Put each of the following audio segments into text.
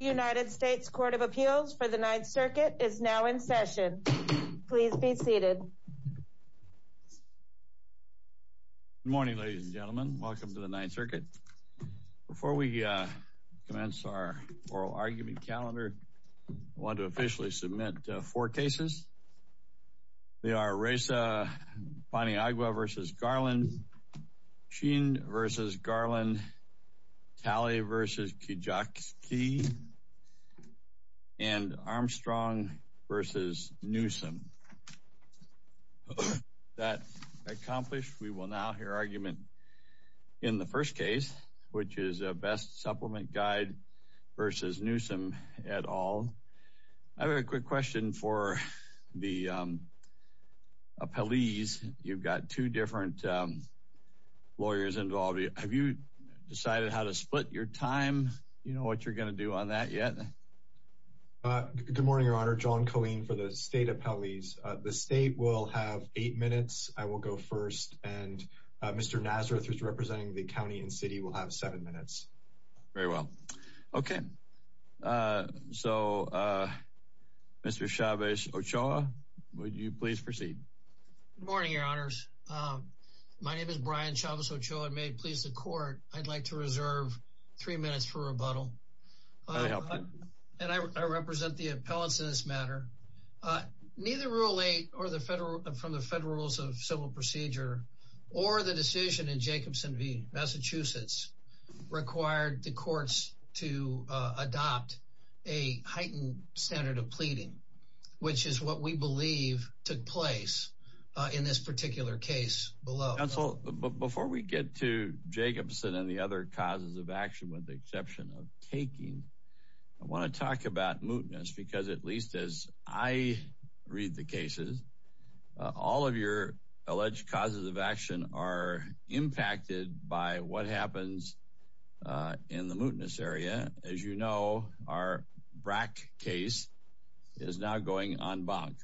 United States Court of Appeals for the Ninth Circuit is now in session. Please be seated. Good morning, ladies and gentlemen. Welcome to the Ninth Circuit. Before we commence our oral argument calendar, I want to officially submit four cases. They are Reza Paniagua v. Garland, Sheen v. Garland, Talley v. Kijakski, and Armstrong v. Newsom. With that accomplished, we will now hear argument in the first case, which is a Best Supplement Guide v. Newsom et al. I have a quick question for the appellees. You've got two different lawyers involved. Have you decided how to split your time? Do you know what you're going to do on that yet? Good morning, Your Honor. John Colleen for the state appellees. The state will have eight minutes. I will go first. And Mr. Nazareth, who's representing the county and city, will have seven minutes. Very well. Okay. So, Mr. Chavez-Ochoa, would you please proceed? Good morning, Your Honors. My name is Brian Chavez-Ochoa, and may it please the Court, I'd like to reserve three minutes for rebuttal. Very helpful. And I represent the appellants in this matter. Neither Rule 8 from the Federal Rules of Civil Procedure or the decision in Jacobson v. Massachusetts required the courts to adopt a heightened standard of pleading, which is what we believe took place in this particular case below. Counsel, before we get to Jacobson and the other causes of action with the exception of taking, I want to talk about mootness because, at least as I read the cases, all of your alleged causes of action are impacted by what happens in the mootness area. As you know, our BRAC case is now going en banc.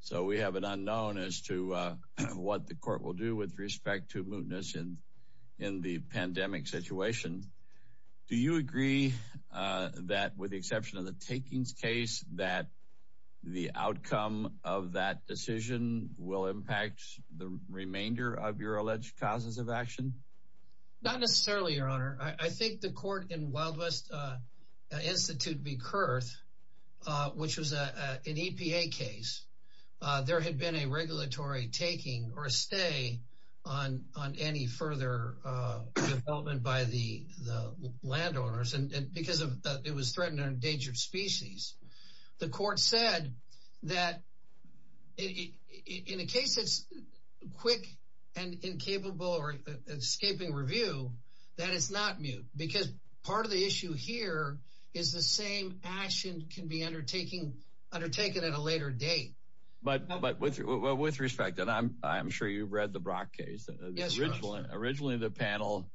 So we have an unknown as to what the court will do with respect to mootness in the pandemic situation. Do you agree that, with the exception of the takings case, that the outcome of that decision will impact the remainder of your alleged causes of action? I think the court in Wild West Institute v. Kurth, which was an EPA case, there had been a regulatory taking or a stay on any further development by the landowners because it was threatened or endangered species. The court said that, in a case that's quick and incapable or escaping review, that it's not moot because part of the issue here is the same action can be undertaken at a later date. But with respect, and I'm sure you've read the BRAC case, originally the panel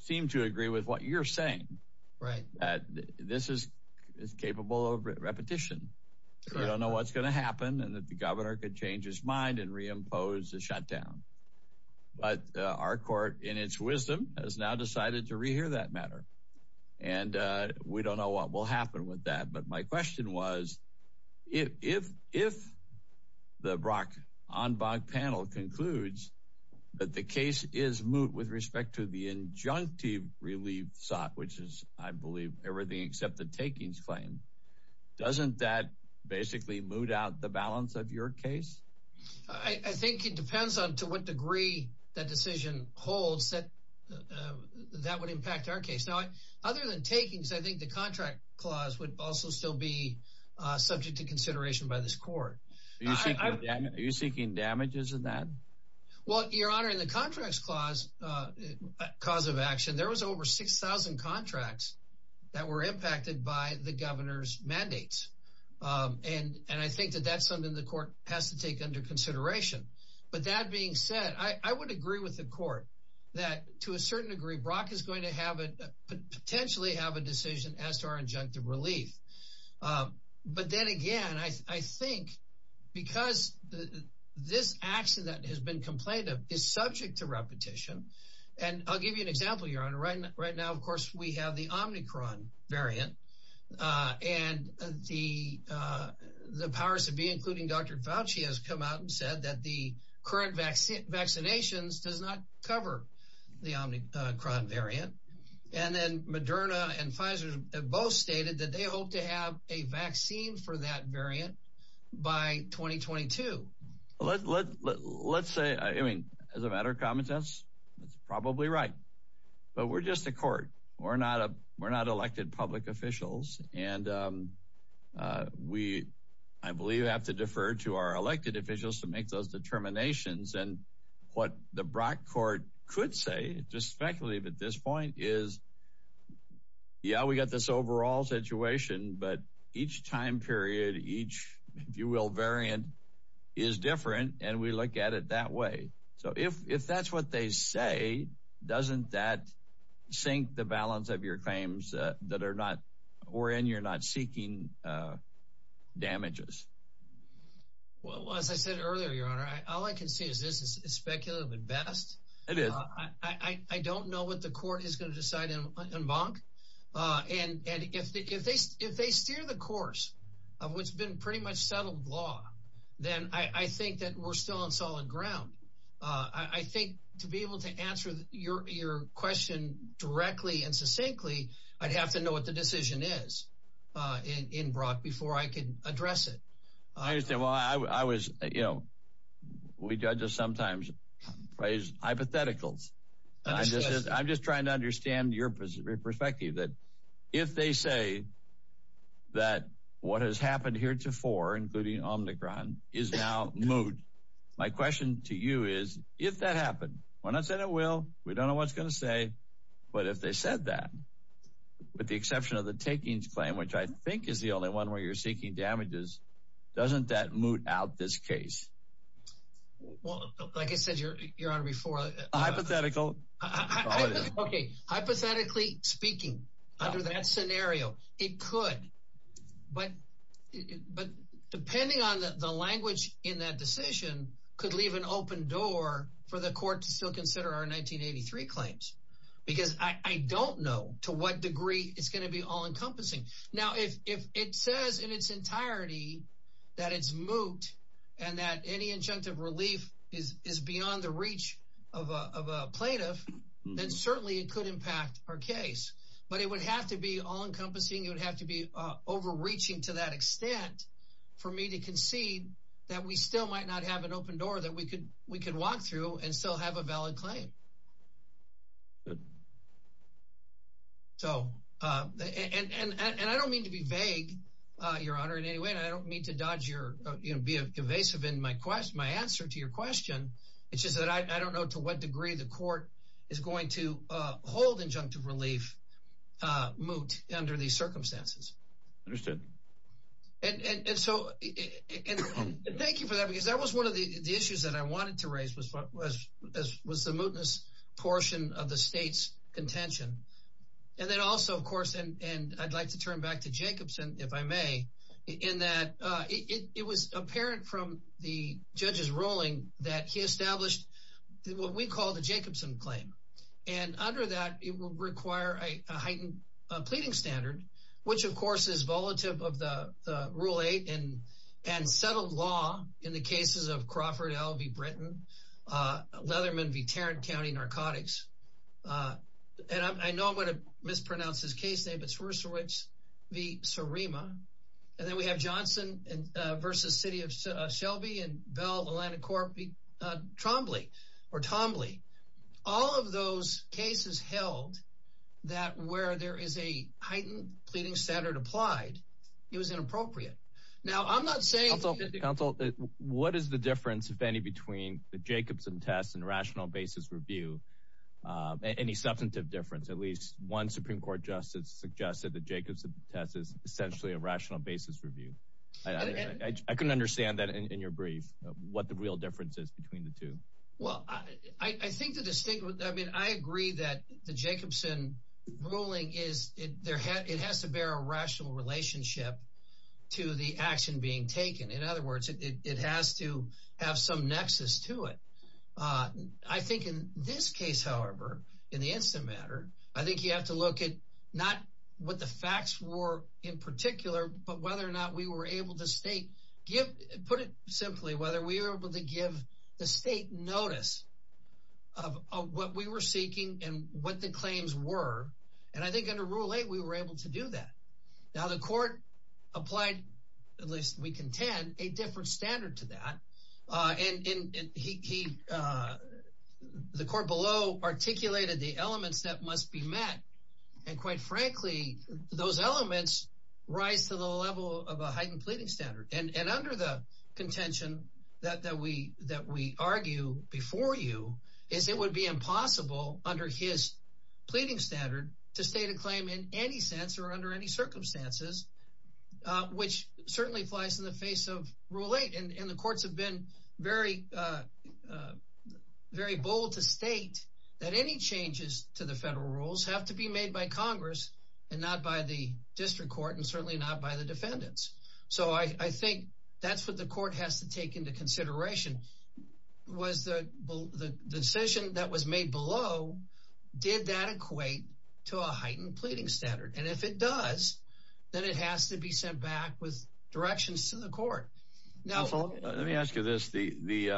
seemed to agree with what you're saying. This is capable of repetition. We don't know what's going to happen and if the governor could change his mind and reimpose the shutdown. But our court, in its wisdom, has now decided to re-hear that matter. And we don't know what will happen with that. But my question was, if the BRAC on BOG panel concludes that the case is moot with respect to the injunctive relief sought, which is, I believe, everything except the takings claim, doesn't that basically moot out the balance of your case? I think it depends on to what degree that decision holds that that would impact our case. Now, other than takings, I think the contract clause would also still be subject to consideration by this court. Are you seeking damages in that? Well, your honor, in the contracts clause, cause of action, there was over 6,000 contracts that were impacted by the governor's mandates. And I think that that's something the court has to take under consideration. But that being said, I would agree with the court that, to a certain degree, BRAC is going to potentially have a decision as to our injunctive relief. But then again, I think because this action that has been complained of is subject to repetition. And I'll give you an example, your honor. Right now, of course, we have the Omicron variant. And the powers that be, including Dr. Fauci, has come out and said that the current vaccinations does not cover the Omicron variant. And then Moderna and Pfizer have both stated that they hope to have a vaccine for that variant by 2022. Let's say, I mean, as a matter of common sense, that's probably right. But we're just a court. We're not elected public officials. And we, I believe, have to defer to our elected officials to make those determinations. And what the BRAC court could say, just speculative at this point, is, yeah, we got this overall situation. But each time period, each, if you will, variant is different. And we look at it that way. So if that's what they say, doesn't that sink the balance of your claims that are not – or in you're not seeking damages? Well, as I said earlier, your honor, all I can say is this is speculative at best. It is. I don't know what the court is going to decide en banc. And if they steer the course of what's been pretty much settled law, then I think that we're still on solid ground. I think to be able to answer your question directly and succinctly, I'd have to know what the decision is in BRAC before I can address it. I understand. Well, I was – you know, we judges sometimes raise hypotheticals. I'm just trying to understand your perspective, that if they say that what has happened heretofore, including Omnicron, is now moved, my question to you is if that happened, when I said it will, we don't know what it's going to say, but if they said that, with the exception of the takings claim, which I think is the only one where you're seeking damages, doesn't that moot out this case? Well, like I said, your honor, before – A hypothetical. Okay. Hypothetically speaking, under that scenario, it could. But depending on the language in that decision could leave an open door for the court to still consider our 1983 claims. Because I don't know to what degree it's going to be all-encompassing. Now, if it says in its entirety that it's moot and that any injunctive relief is beyond the reach of a plaintiff, then certainly it could impact our case. But it would have to be all-encompassing. It would have to be overreaching to that extent for me to concede that we still might not have an open door that we could walk through and still have a valid claim. Good. So – and I don't mean to be vague, your honor, in any way, and I don't mean to be evasive in my answer to your question. It's just that I don't know to what degree the court is going to hold injunctive relief moot under these circumstances. Understood. And so – and thank you for that, because that was one of the issues that I wanted to raise was the mootness portion of the state's contention. And then also, of course, and I'd like to turn back to Jacobson, if I may, in that it was apparent from the judge's ruling that he established what we call the Jacobson claim. And under that, it would require a heightened pleading standard, which, of course, is volatile of the Rule 8 and settled law in the cases of Crawford L v. Britain, Leatherman v. Tarrant County narcotics. And I know I'm going to mispronounce his case name, but Swierczewicz v. Surima. And then we have Johnson v. City of Shelby and Bell Atlantic Corp v. Trombley or Tombley. All of those cases held that where there is a heightened pleading standard applied, it was inappropriate. Now, I'm not saying – Counsel, what is the difference, if any, between the Jacobson test and rational basis review, any substantive difference? At least one Supreme Court justice suggested the Jacobson test is essentially a rational basis review. I couldn't understand that in your brief, what the real difference is between the two. Well, I think the – I mean, I agree that the Jacobson ruling is – it has to bear a rational relationship to the action being taken. In other words, it has to have some nexus to it. I think in this case, however, in the instant matter, I think you have to look at not what the facts were in particular, but whether or not we were able to state – put it simply, whether we were able to give the state notice of what we were seeking and what the claims were. And I think under Rule 8, we were able to do that. Now, the court applied, at least we contend, a different standard to that. And he – the court below articulated the elements that must be met. And quite frankly, those elements rise to the level of a heightened pleading standard. And under the contention that we argue before you is it would be impossible under his pleading standard to state a claim in any sense or under any circumstances, which certainly flies in the face of Rule 8. And the courts have been very bold to state that any changes to the federal rules have to be made by Congress and not by the district court and certainly not by the defendants. So I think that's what the court has to take into consideration, was the decision that was made below, did that equate to a heightened pleading standard? And if it does, then it has to be sent back with directions to the court. Now – Let me ask you this. The –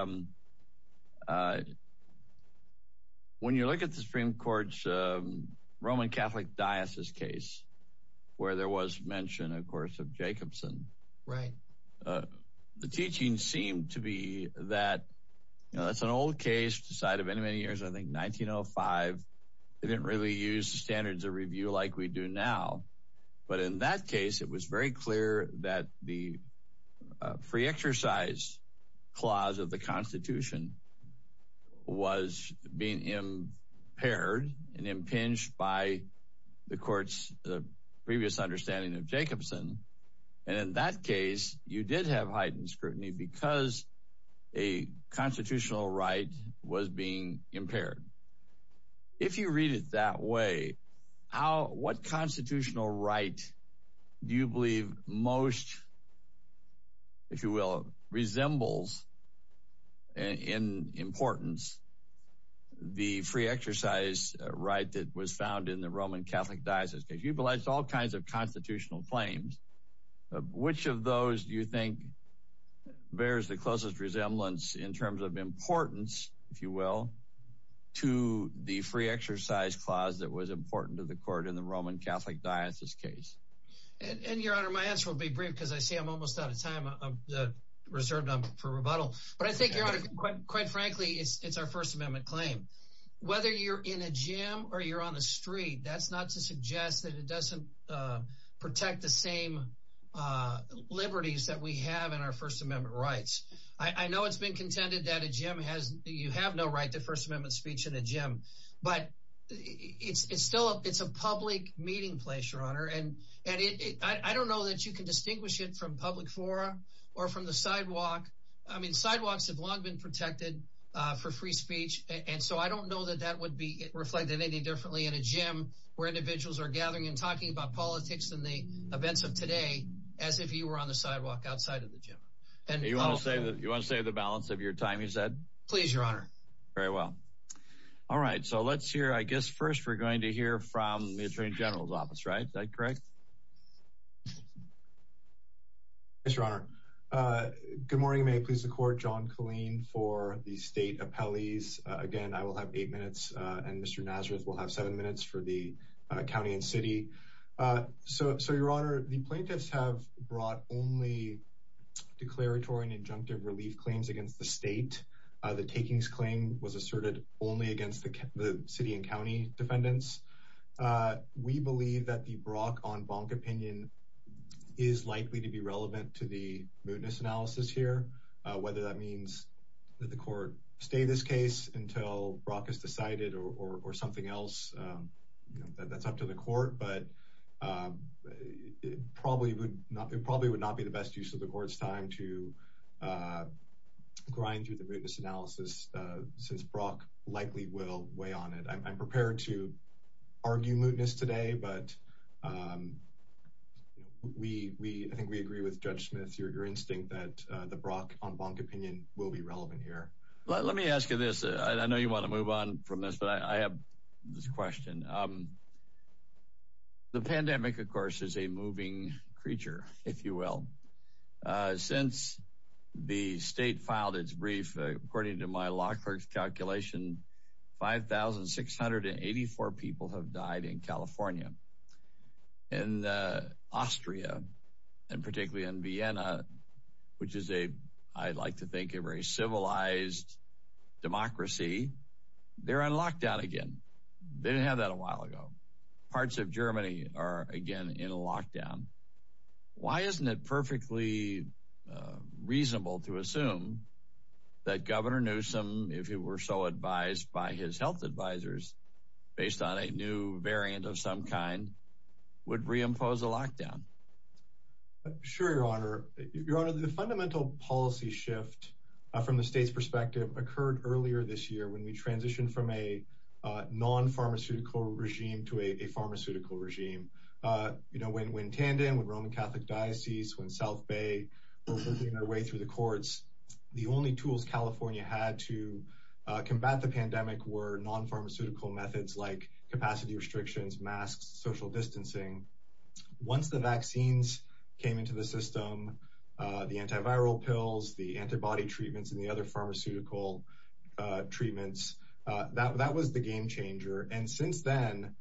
when you look at the Supreme Court's Roman Catholic Diocese case where there was mention, of course, of Jacobson – Right. The teaching seemed to be that – you know, that's an old case, decided many, many years ago, I think 1905. They didn't really use the standards of review like we do now. But in that case, it was very clear that the free exercise clause of the Constitution was being impaired and impinged by the court's previous understanding of Jacobson. And in that case, you did have heightened scrutiny because a constitutional right was being impaired. If you read it that way, how – what constitutional right do you believe most, if you will, resembles in importance the free exercise right that was found in the Roman Catholic Diocese case? You've alleged all kinds of constitutional claims. Which of those do you think bears the closest resemblance in terms of importance, if you will, to the free exercise clause that was important to the court in the Roman Catholic Diocese case? And, Your Honor, my answer will be brief because I see I'm almost out of time. I'm reserved for rebuttal. But I think, Your Honor, quite frankly, it's our First Amendment claim. Whether you're in a gym or you're on the street, that's not to suggest that it doesn't protect the same liberties that we have in our First Amendment rights. I know it's been contended that a gym has – you have no right to First Amendment speech in a gym. But it's still – it's a public meeting place, Your Honor. And I don't know that you can distinguish it from public fora or from the sidewalk. I mean sidewalks have long been protected for free speech. And so I don't know that that would be reflected any differently in a gym where individuals are gathering and talking about politics and the events of today as if you were on the sidewalk outside of the gym. And also – You want to save the balance of your time, you said? Please, Your Honor. Very well. All right. So let's hear – I guess first we're going to hear from the Attorney General's office, right? Is that correct? Yes, Your Honor. Good morning. May it please the Court. John Killeen for the state appellees. Again, I will have eight minutes and Mr. Nazareth will have seven minutes for the county and city. So, Your Honor, the plaintiffs have brought only declaratory and injunctive relief claims against the state. The takings claim was asserted only against the city and county defendants. We believe that the Brock on Bonk opinion is likely to be relevant to the mootness analysis here. Whether that means that the court stay this case until Brock is decided or something else, that's up to the court. But it probably would not be the best use of the court's time to grind through the mootness analysis since Brock likely will weigh on it. I'm prepared to argue mootness today, but I think we agree with Judge Smith, your instinct that the Brock on Bonk opinion will be relevant here. Let me ask you this. I know you want to move on from this, but I have this question. The pandemic, of course, is a moving creature, if you will. Since the state filed its brief, according to my law clerk's calculation, 5,684 people have died in California and Austria and particularly in Vienna, which is a I'd like to think a very civilized democracy. They're on lockdown again. They didn't have that a while ago. Parts of Germany are again in lockdown. Why isn't it perfectly reasonable to assume that Governor Newsom, if it were so advised by his health advisors based on a new variant of some kind, would reimpose a lockdown? Sure, Your Honor. Your Honor, the fundamental policy shift from the state's perspective occurred earlier this year when we transitioned from a non pharmaceutical regime to a pharmaceutical regime. You know, when when tandem with Roman Catholic Diocese, when South Bay was moving their way through the courts, the only tools California had to combat the pandemic were non pharmaceutical methods like capacity restrictions, masks, social distancing. Once the vaccines came into the system, the antiviral pills, the antibody treatments and the other pharmaceutical treatments, that that was the game changer. And since then,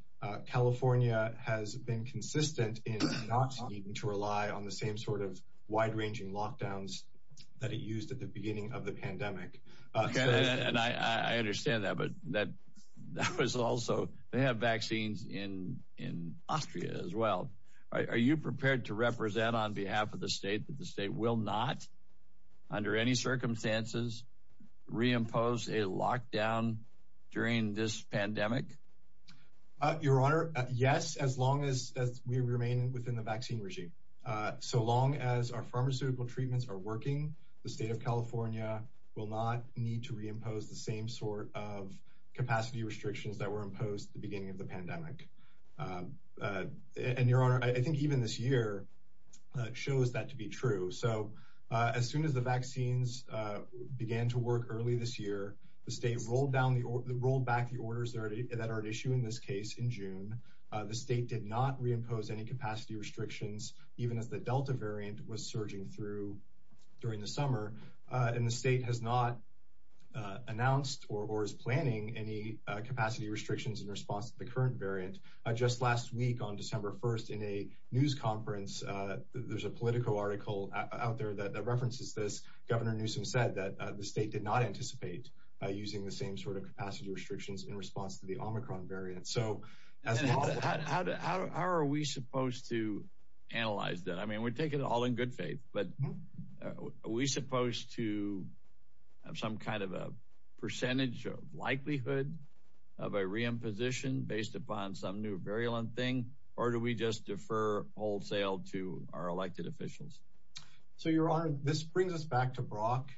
California has been consistent in not needing to rely on the same sort of wide ranging lockdowns that it used at the beginning of the pandemic. And I understand that. But that was also they have vaccines in in Austria as well. Are you prepared to represent on behalf of the state that the state will not, under any circumstances, reimpose a lockdown during this pandemic? Your Honor. Yes. As long as we remain within the vaccine regime, so long as our pharmaceutical treatments are working, the state of California will not need to reimpose the same sort of capacity restrictions that were imposed at the beginning of the pandemic. And your Honor, I think even this year shows that to be true. So as soon as the vaccines began to work early this year, the state rolled down the rolled back the orders that are at issue in this case. The state did not reimpose any capacity restrictions, even as the Delta variant was surging through during the summer. And the state has not announced or is planning any capacity restrictions in response to the current variant. Just last week, on December 1st, in a news conference, there's a Politico article out there that references this. Governor Newsom said that the state did not anticipate using the same sort of capacity restrictions in response to the Omicron variant. How are we supposed to analyze that? I mean, we take it all in good faith. But are we supposed to have some kind of a percentage of likelihood of a reimposition based upon some new variant thing? Or do we just defer wholesale to our elected officials? So, Your Honor, this brings us back to Brock.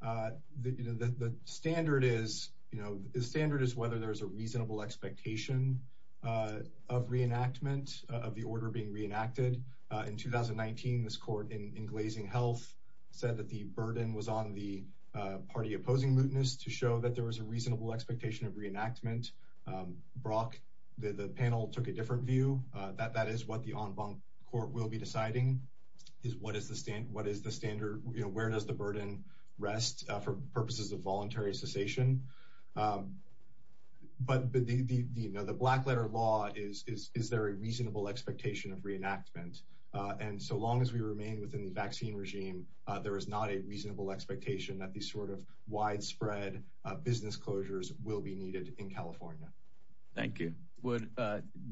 The standard is, you know, the standard is whether there is a reasonable expectation of reenactment of the order being reenacted. In 2019, this court in Glazing Health said that the burden was on the party opposing mootness to show that there was a reasonable expectation of reenactment. Brock, the panel took a different view. That is what the en banc court will be deciding. What is the standard? Where does the burden rest for purposes of voluntary cessation? But the black letter law is, is there a reasonable expectation of reenactment? And so long as we remain within the vaccine regime, there is not a reasonable expectation that these sort of widespread business closures will be needed in California. Thank you.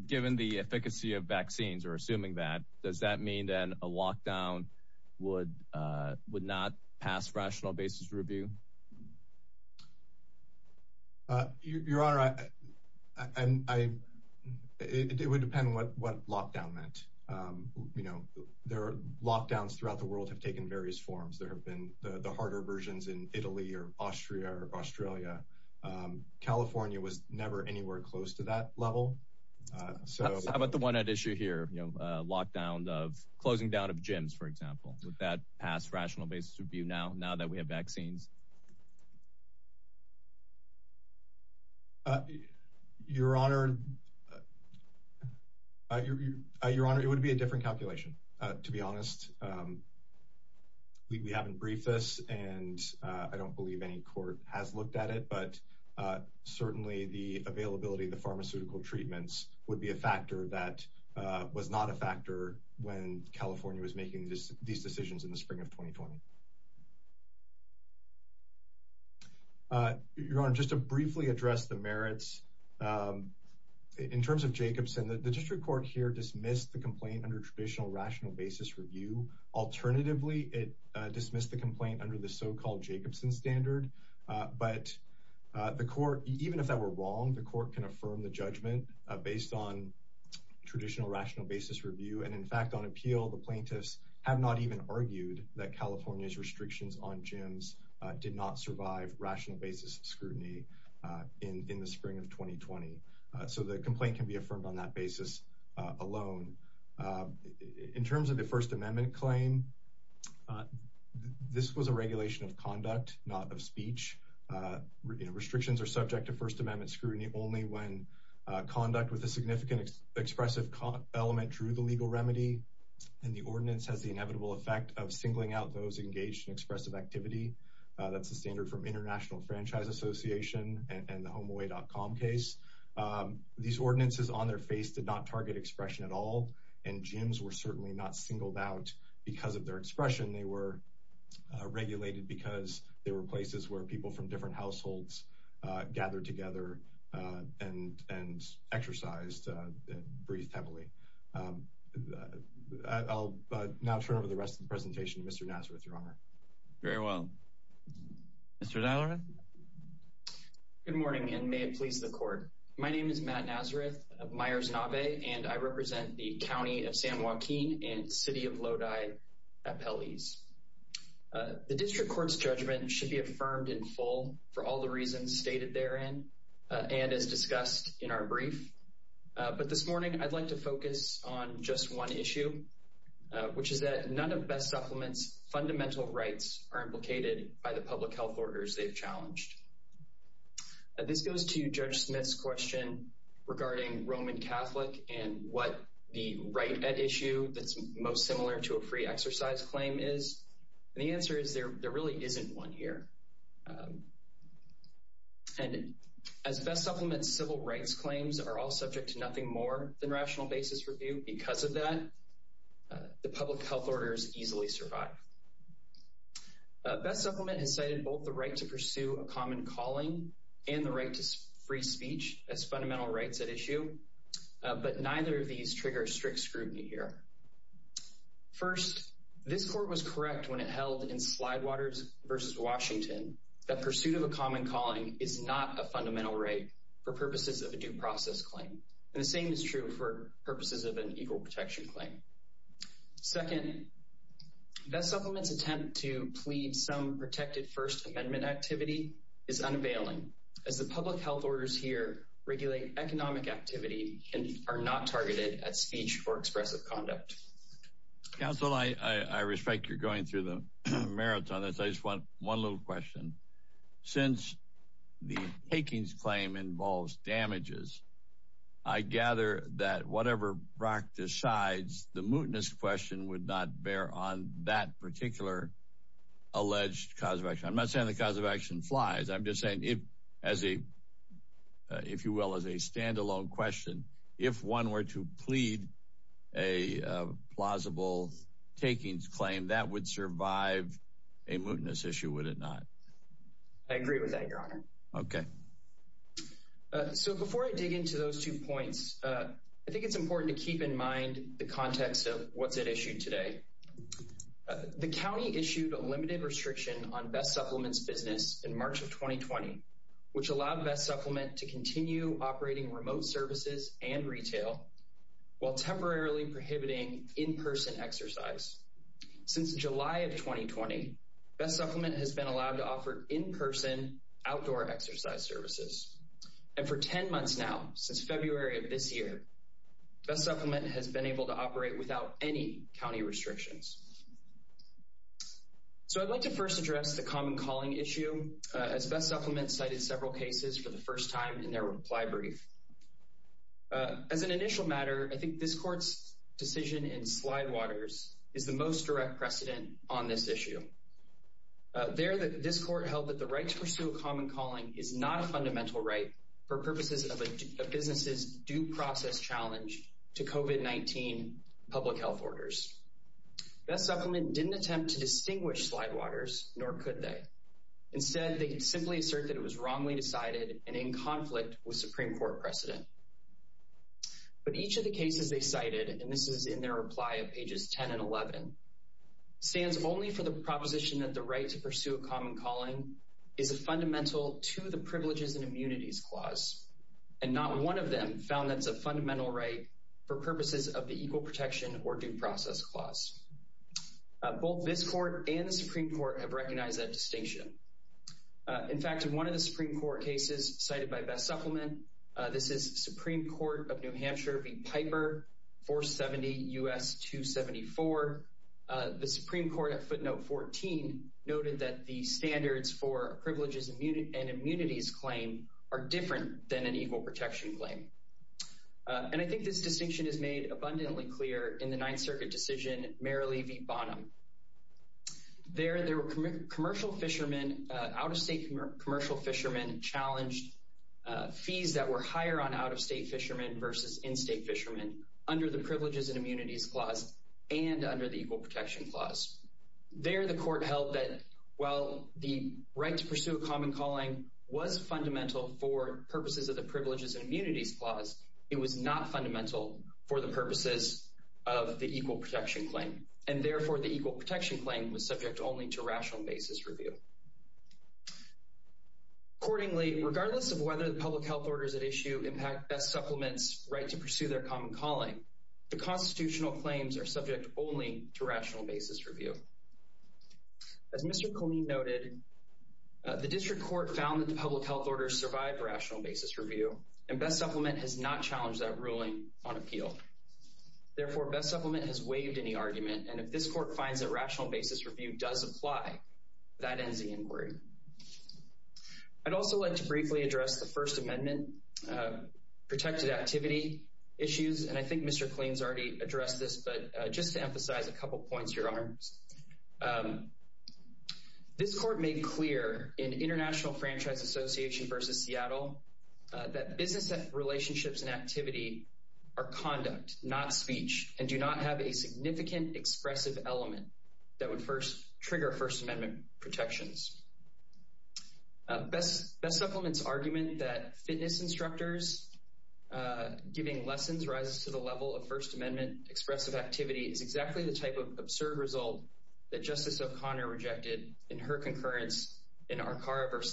Given the efficacy of vaccines or assuming that, does that mean that a lockdown would would not pass rational basis review? Your Honor, I and I, it would depend on what what lockdown meant. You know, there are lockdowns throughout the world have taken various forms. There have been the harder versions in Italy or Austria or Australia. California was never anywhere close to that level. So how about the one at issue here? Lockdown of closing down of gyms, for example, with that past rational basis review now, now that we have vaccines. Your Honor. Your Honor, it would be a different calculation, to be honest. We haven't briefed us, and I don't believe any court has looked at it. But certainly the availability of the pharmaceutical treatments would be a factor that was not a factor when California was making these decisions in the spring of 2020. Your Honor, just to briefly address the merits in terms of Jacobson, the district court here dismissed the complaint under traditional rational basis review. Alternatively, it dismissed the complaint under the so-called Jacobson standard. But the court, even if that were wrong, the court can affirm the judgment based on traditional rational basis review. And in fact, on appeal, the plaintiffs have not even argued that California's restrictions on gyms did not survive rational basis scrutiny in the spring of 2020. So the complaint can be affirmed on that basis alone. In terms of the First Amendment claim, this was a regulation of conduct, not of speech. Restrictions are subject to First Amendment scrutiny only when conduct with a significant expressive element drew the legal remedy. And the ordinance has the inevitable effect of singling out those engaged in expressive activity. That's the standard from International Franchise Association and the HomeAway.com case. These ordinances on their face did not target expression at all. And gyms were certainly not singled out because of their expression. They were regulated because they were places where people from different households gathered together and exercised and breathed heavily. I'll now turn over the rest of the presentation to Mr. Nazareth, Your Honor. Very well. Mr. Nilerith? Good morning, and may it please the Court. My name is Matt Nazareth of Myers-Navet, and I represent the County of San Joaquin and City of Lodi Appellees. The District Court's judgment should be affirmed in full for all the reasons stated therein and as discussed in our brief. But this morning, I'd like to focus on just one issue, which is that none of Best Supplements' fundamental rights are implicated by the public health orders they've challenged. This goes to Judge Smith's question regarding Roman Catholic and what the right at issue that's most similar to a free exercise claim is. And the answer is there really isn't one here. And as Best Supplements' civil rights claims are all subject to nothing more than rational basis review, because of that, the public health orders easily survive. Best Supplements has cited both the right to pursue a common calling and the right to free speech as fundamental rights at issue, but neither of these trigger strict scrutiny here. First, this Court was correct when it held in Slidewaters v. Washington that pursuit of a common calling is not a fundamental right for purposes of a due process claim. And the same is true for purposes of an equal protection claim. Second, Best Supplements' attempt to plead some protected First Amendment activity is unavailing, as the public health orders here regulate economic activity and are not targeted at speech or expressive conduct. Counsel, I respect you're going through the marathon. I just want one little question. Since the Hakings claim involves damages, I gather that whatever Brock decides, the mootness question would not bear on that particular alleged cause of action. I'm not saying the cause of action flies. I'm just saying if, as a, if you will, as a standalone question, if one were to plead a plausible Hakings claim, that would survive a mootness issue, would it not? I agree with that, Your Honor. Okay. So before I dig into those two points, I think it's important to keep in mind the context of what's at issue today. The county issued a limited restriction on Best Supplements' business in March of 2020, which allowed Best Supplement to continue operating remote services and retail while temporarily prohibiting in-person exercise. Since July of 2020, Best Supplement has been allowed to offer in-person outdoor exercise services. And for 10 months now, since February of this year, Best Supplement has been able to operate without any county restrictions. So I'd like to first address the common calling issue, as Best Supplement cited several cases for the first time in their reply brief. As an initial matter, I think this court's decision in Slidewaters is the most direct precedent on this issue. There, this court held that the right to pursue a common calling is not a fundamental right for purposes of a business's due process challenge to COVID-19 public health orders. Best Supplement didn't attempt to distinguish Slidewaters, nor could they. Instead, they could simply assert that it was wrongly decided and in conflict with Supreme Court precedent. But each of the cases they cited, and this is in their reply of pages 10 and 11, stands only for the proposition that the right to pursue a common calling is a fundamental to the Privileges and Immunities Clause. And not one of them found that's a fundamental right for purposes of the Equal Protection or Due Process Clause. Both this court and the Supreme Court have recognized that distinction. In fact, in one of the Supreme Court cases cited by Best Supplement, this is Supreme Court of New Hampshire v. Piper, 470 U.S. 274, the Supreme Court at footnote 14 noted that the standards for Privileges and Immunities Claim are different than an Equal Protection Claim. And I think this distinction is made abundantly clear in the Ninth Circuit decision, Mary Lee v. Bonham. There, there were commercial fishermen, out-of-state commercial fishermen challenged fees that were higher on out-of-state fishermen versus in-state fishermen under the Privileges and Immunities Clause and under the Equal Protection Clause. There, the court held that while the right to pursue a common calling was fundamental for purposes of the Privileges and Immunities Clause, it was not fundamental for the purposes of the Equal Protection Claim. And therefore, the Equal Protection Claim was subject only to rational basis review. Accordingly, regardless of whether the public health orders at issue impact Best Supplement's right to pursue their common calling, the constitutional claims are subject only to rational basis review. As Mr. Colleen noted, the District Court found that the public health orders survive rational basis review, and Best Supplement has not challenged that ruling on appeal. Therefore, Best Supplement has waived any argument, and if this court finds that rational basis review does apply, that ends the inquiry. I'd also like to briefly address the First Amendment protected activity issues, and I think Mr. Colleen's already addressed this, but just to emphasize a couple points to your arms. This court made clear in International Franchise Association v. Seattle that business relationships and activity are conduct, not speech, and do not have a significant expressive element that would first trigger First Amendment protections. Best Supplement's argument that fitness instructors giving lessons rises to the level of First Amendment expressive activity is exactly the type of absurd result that Justice O'Connor rejected in her concurrence in Arcara v.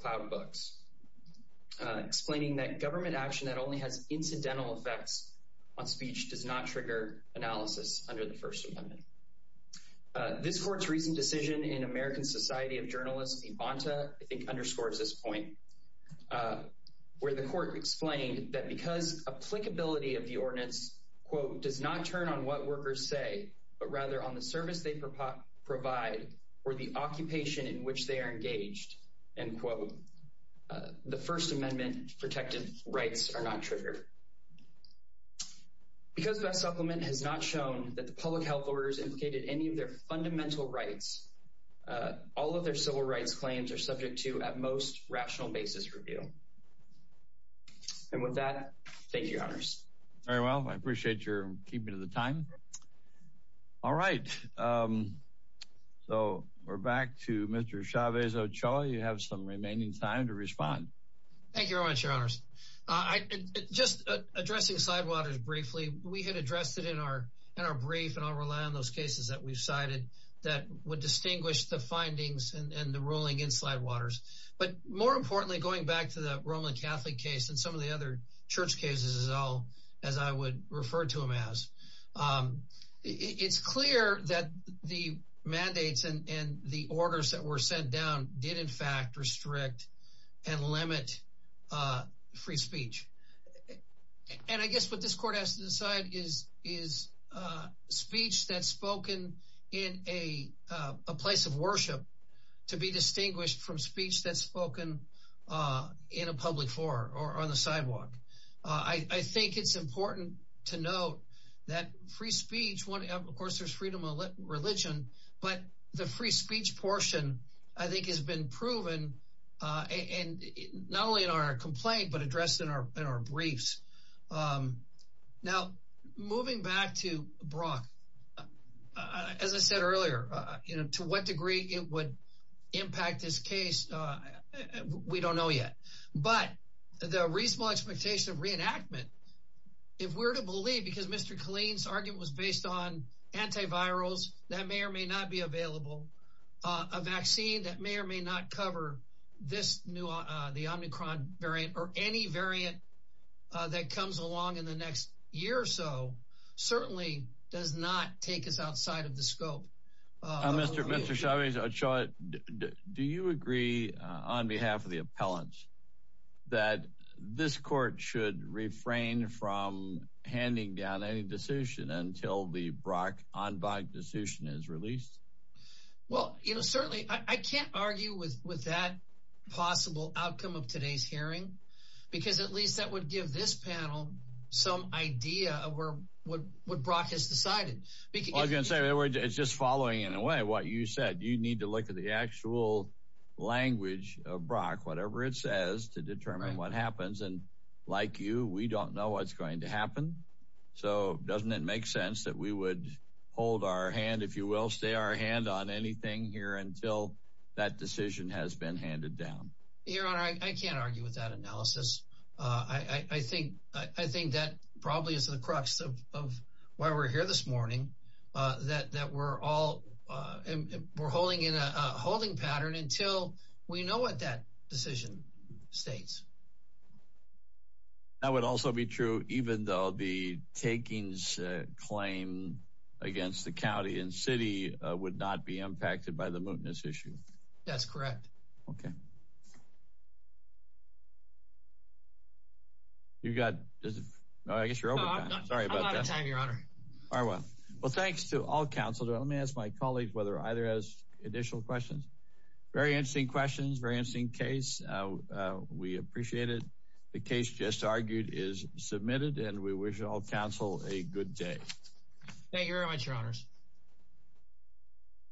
Cloud Books, explaining that government action that only has incidental effects on speech does not trigger analysis under the First Amendment. This court's recent decision in American Society of Journalists v. Bonta underscores this point, where the court explained that because applicability of the ordinance does not turn on what workers say, but rather on the service they provide or the occupation in which they are engaged, end quote, the First Amendment protected rights are not triggered. Because Best Supplement has not shown that the public health orders implicated any of their fundamental rights, all of their civil rights claims are subject to, at most, rational basis review. And with that, thank you, Your Honors. Very well. I appreciate your keeping to the time. All right, so we're back to Mr. Chavez Ochoa. You have some remaining time to respond. Thank you very much, Your Honors. Just addressing Sidewaters briefly, we had addressed it in our brief, and I'll rely on those cases that we've cited, that would distinguish the findings and the ruling in Sidewaters. But more importantly, going back to the Roman Catholic case and some of the other church cases as I would refer to them as, it's clear that the mandates and the orders that were sent down did, in fact, restrict and limit free speech. And I guess what this court has to decide is speech that's spoken in a place of worship to be distinguished from speech that's spoken in a public forum or on the sidewalk. I think it's important to note that free speech, of course, there's freedom of religion, but the free speech portion, I think, has been proven, not only in our complaint, but addressed in our briefs. Now, moving back to Brock, as I said earlier, to what degree it would impact this case, we don't know yet. But the reasonable expectation of reenactment, if we're to believe, because Mr. Killeen's argument was based on antivirals that may or may not be available, a vaccine that may or may not cover this new, the Omicron variant or any variant that comes along in the next year or so, certainly does not take us outside of the scope. Mr. Chavez, do you agree, on behalf of the appellants, that this court should refrain from handing down any decision until the Brock-Enbach decision is released? Well, certainly, I can't argue with that possible outcome of today's hearing, because at least that would give this panel some idea of what Brock has decided. It's just following, in a way, what you said. You need to look at the actual language of Brock, whatever it says, to determine what happens. And like you, we don't know what's going to happen, so doesn't it make sense that we would hold our hand, if you will, stay our hand on anything here until that decision has been handed down? Your Honor, I can't argue with that analysis. I think that probably is the crux of why we're here this morning, that we're holding in a holding pattern until we know what that decision states. That would also be true, even though the takings claim against the county and city would not be impacted by the mootness issue. That's correct. I guess you're over time. No, I'm out of time, Your Honor. Well, thanks to all counsel. Let me ask my colleagues whether either has additional questions. Very interesting questions, very interesting case. We appreciate it. The case just argued is submitted, and we wish all counsel a good day. Thank you very much, Your Honors.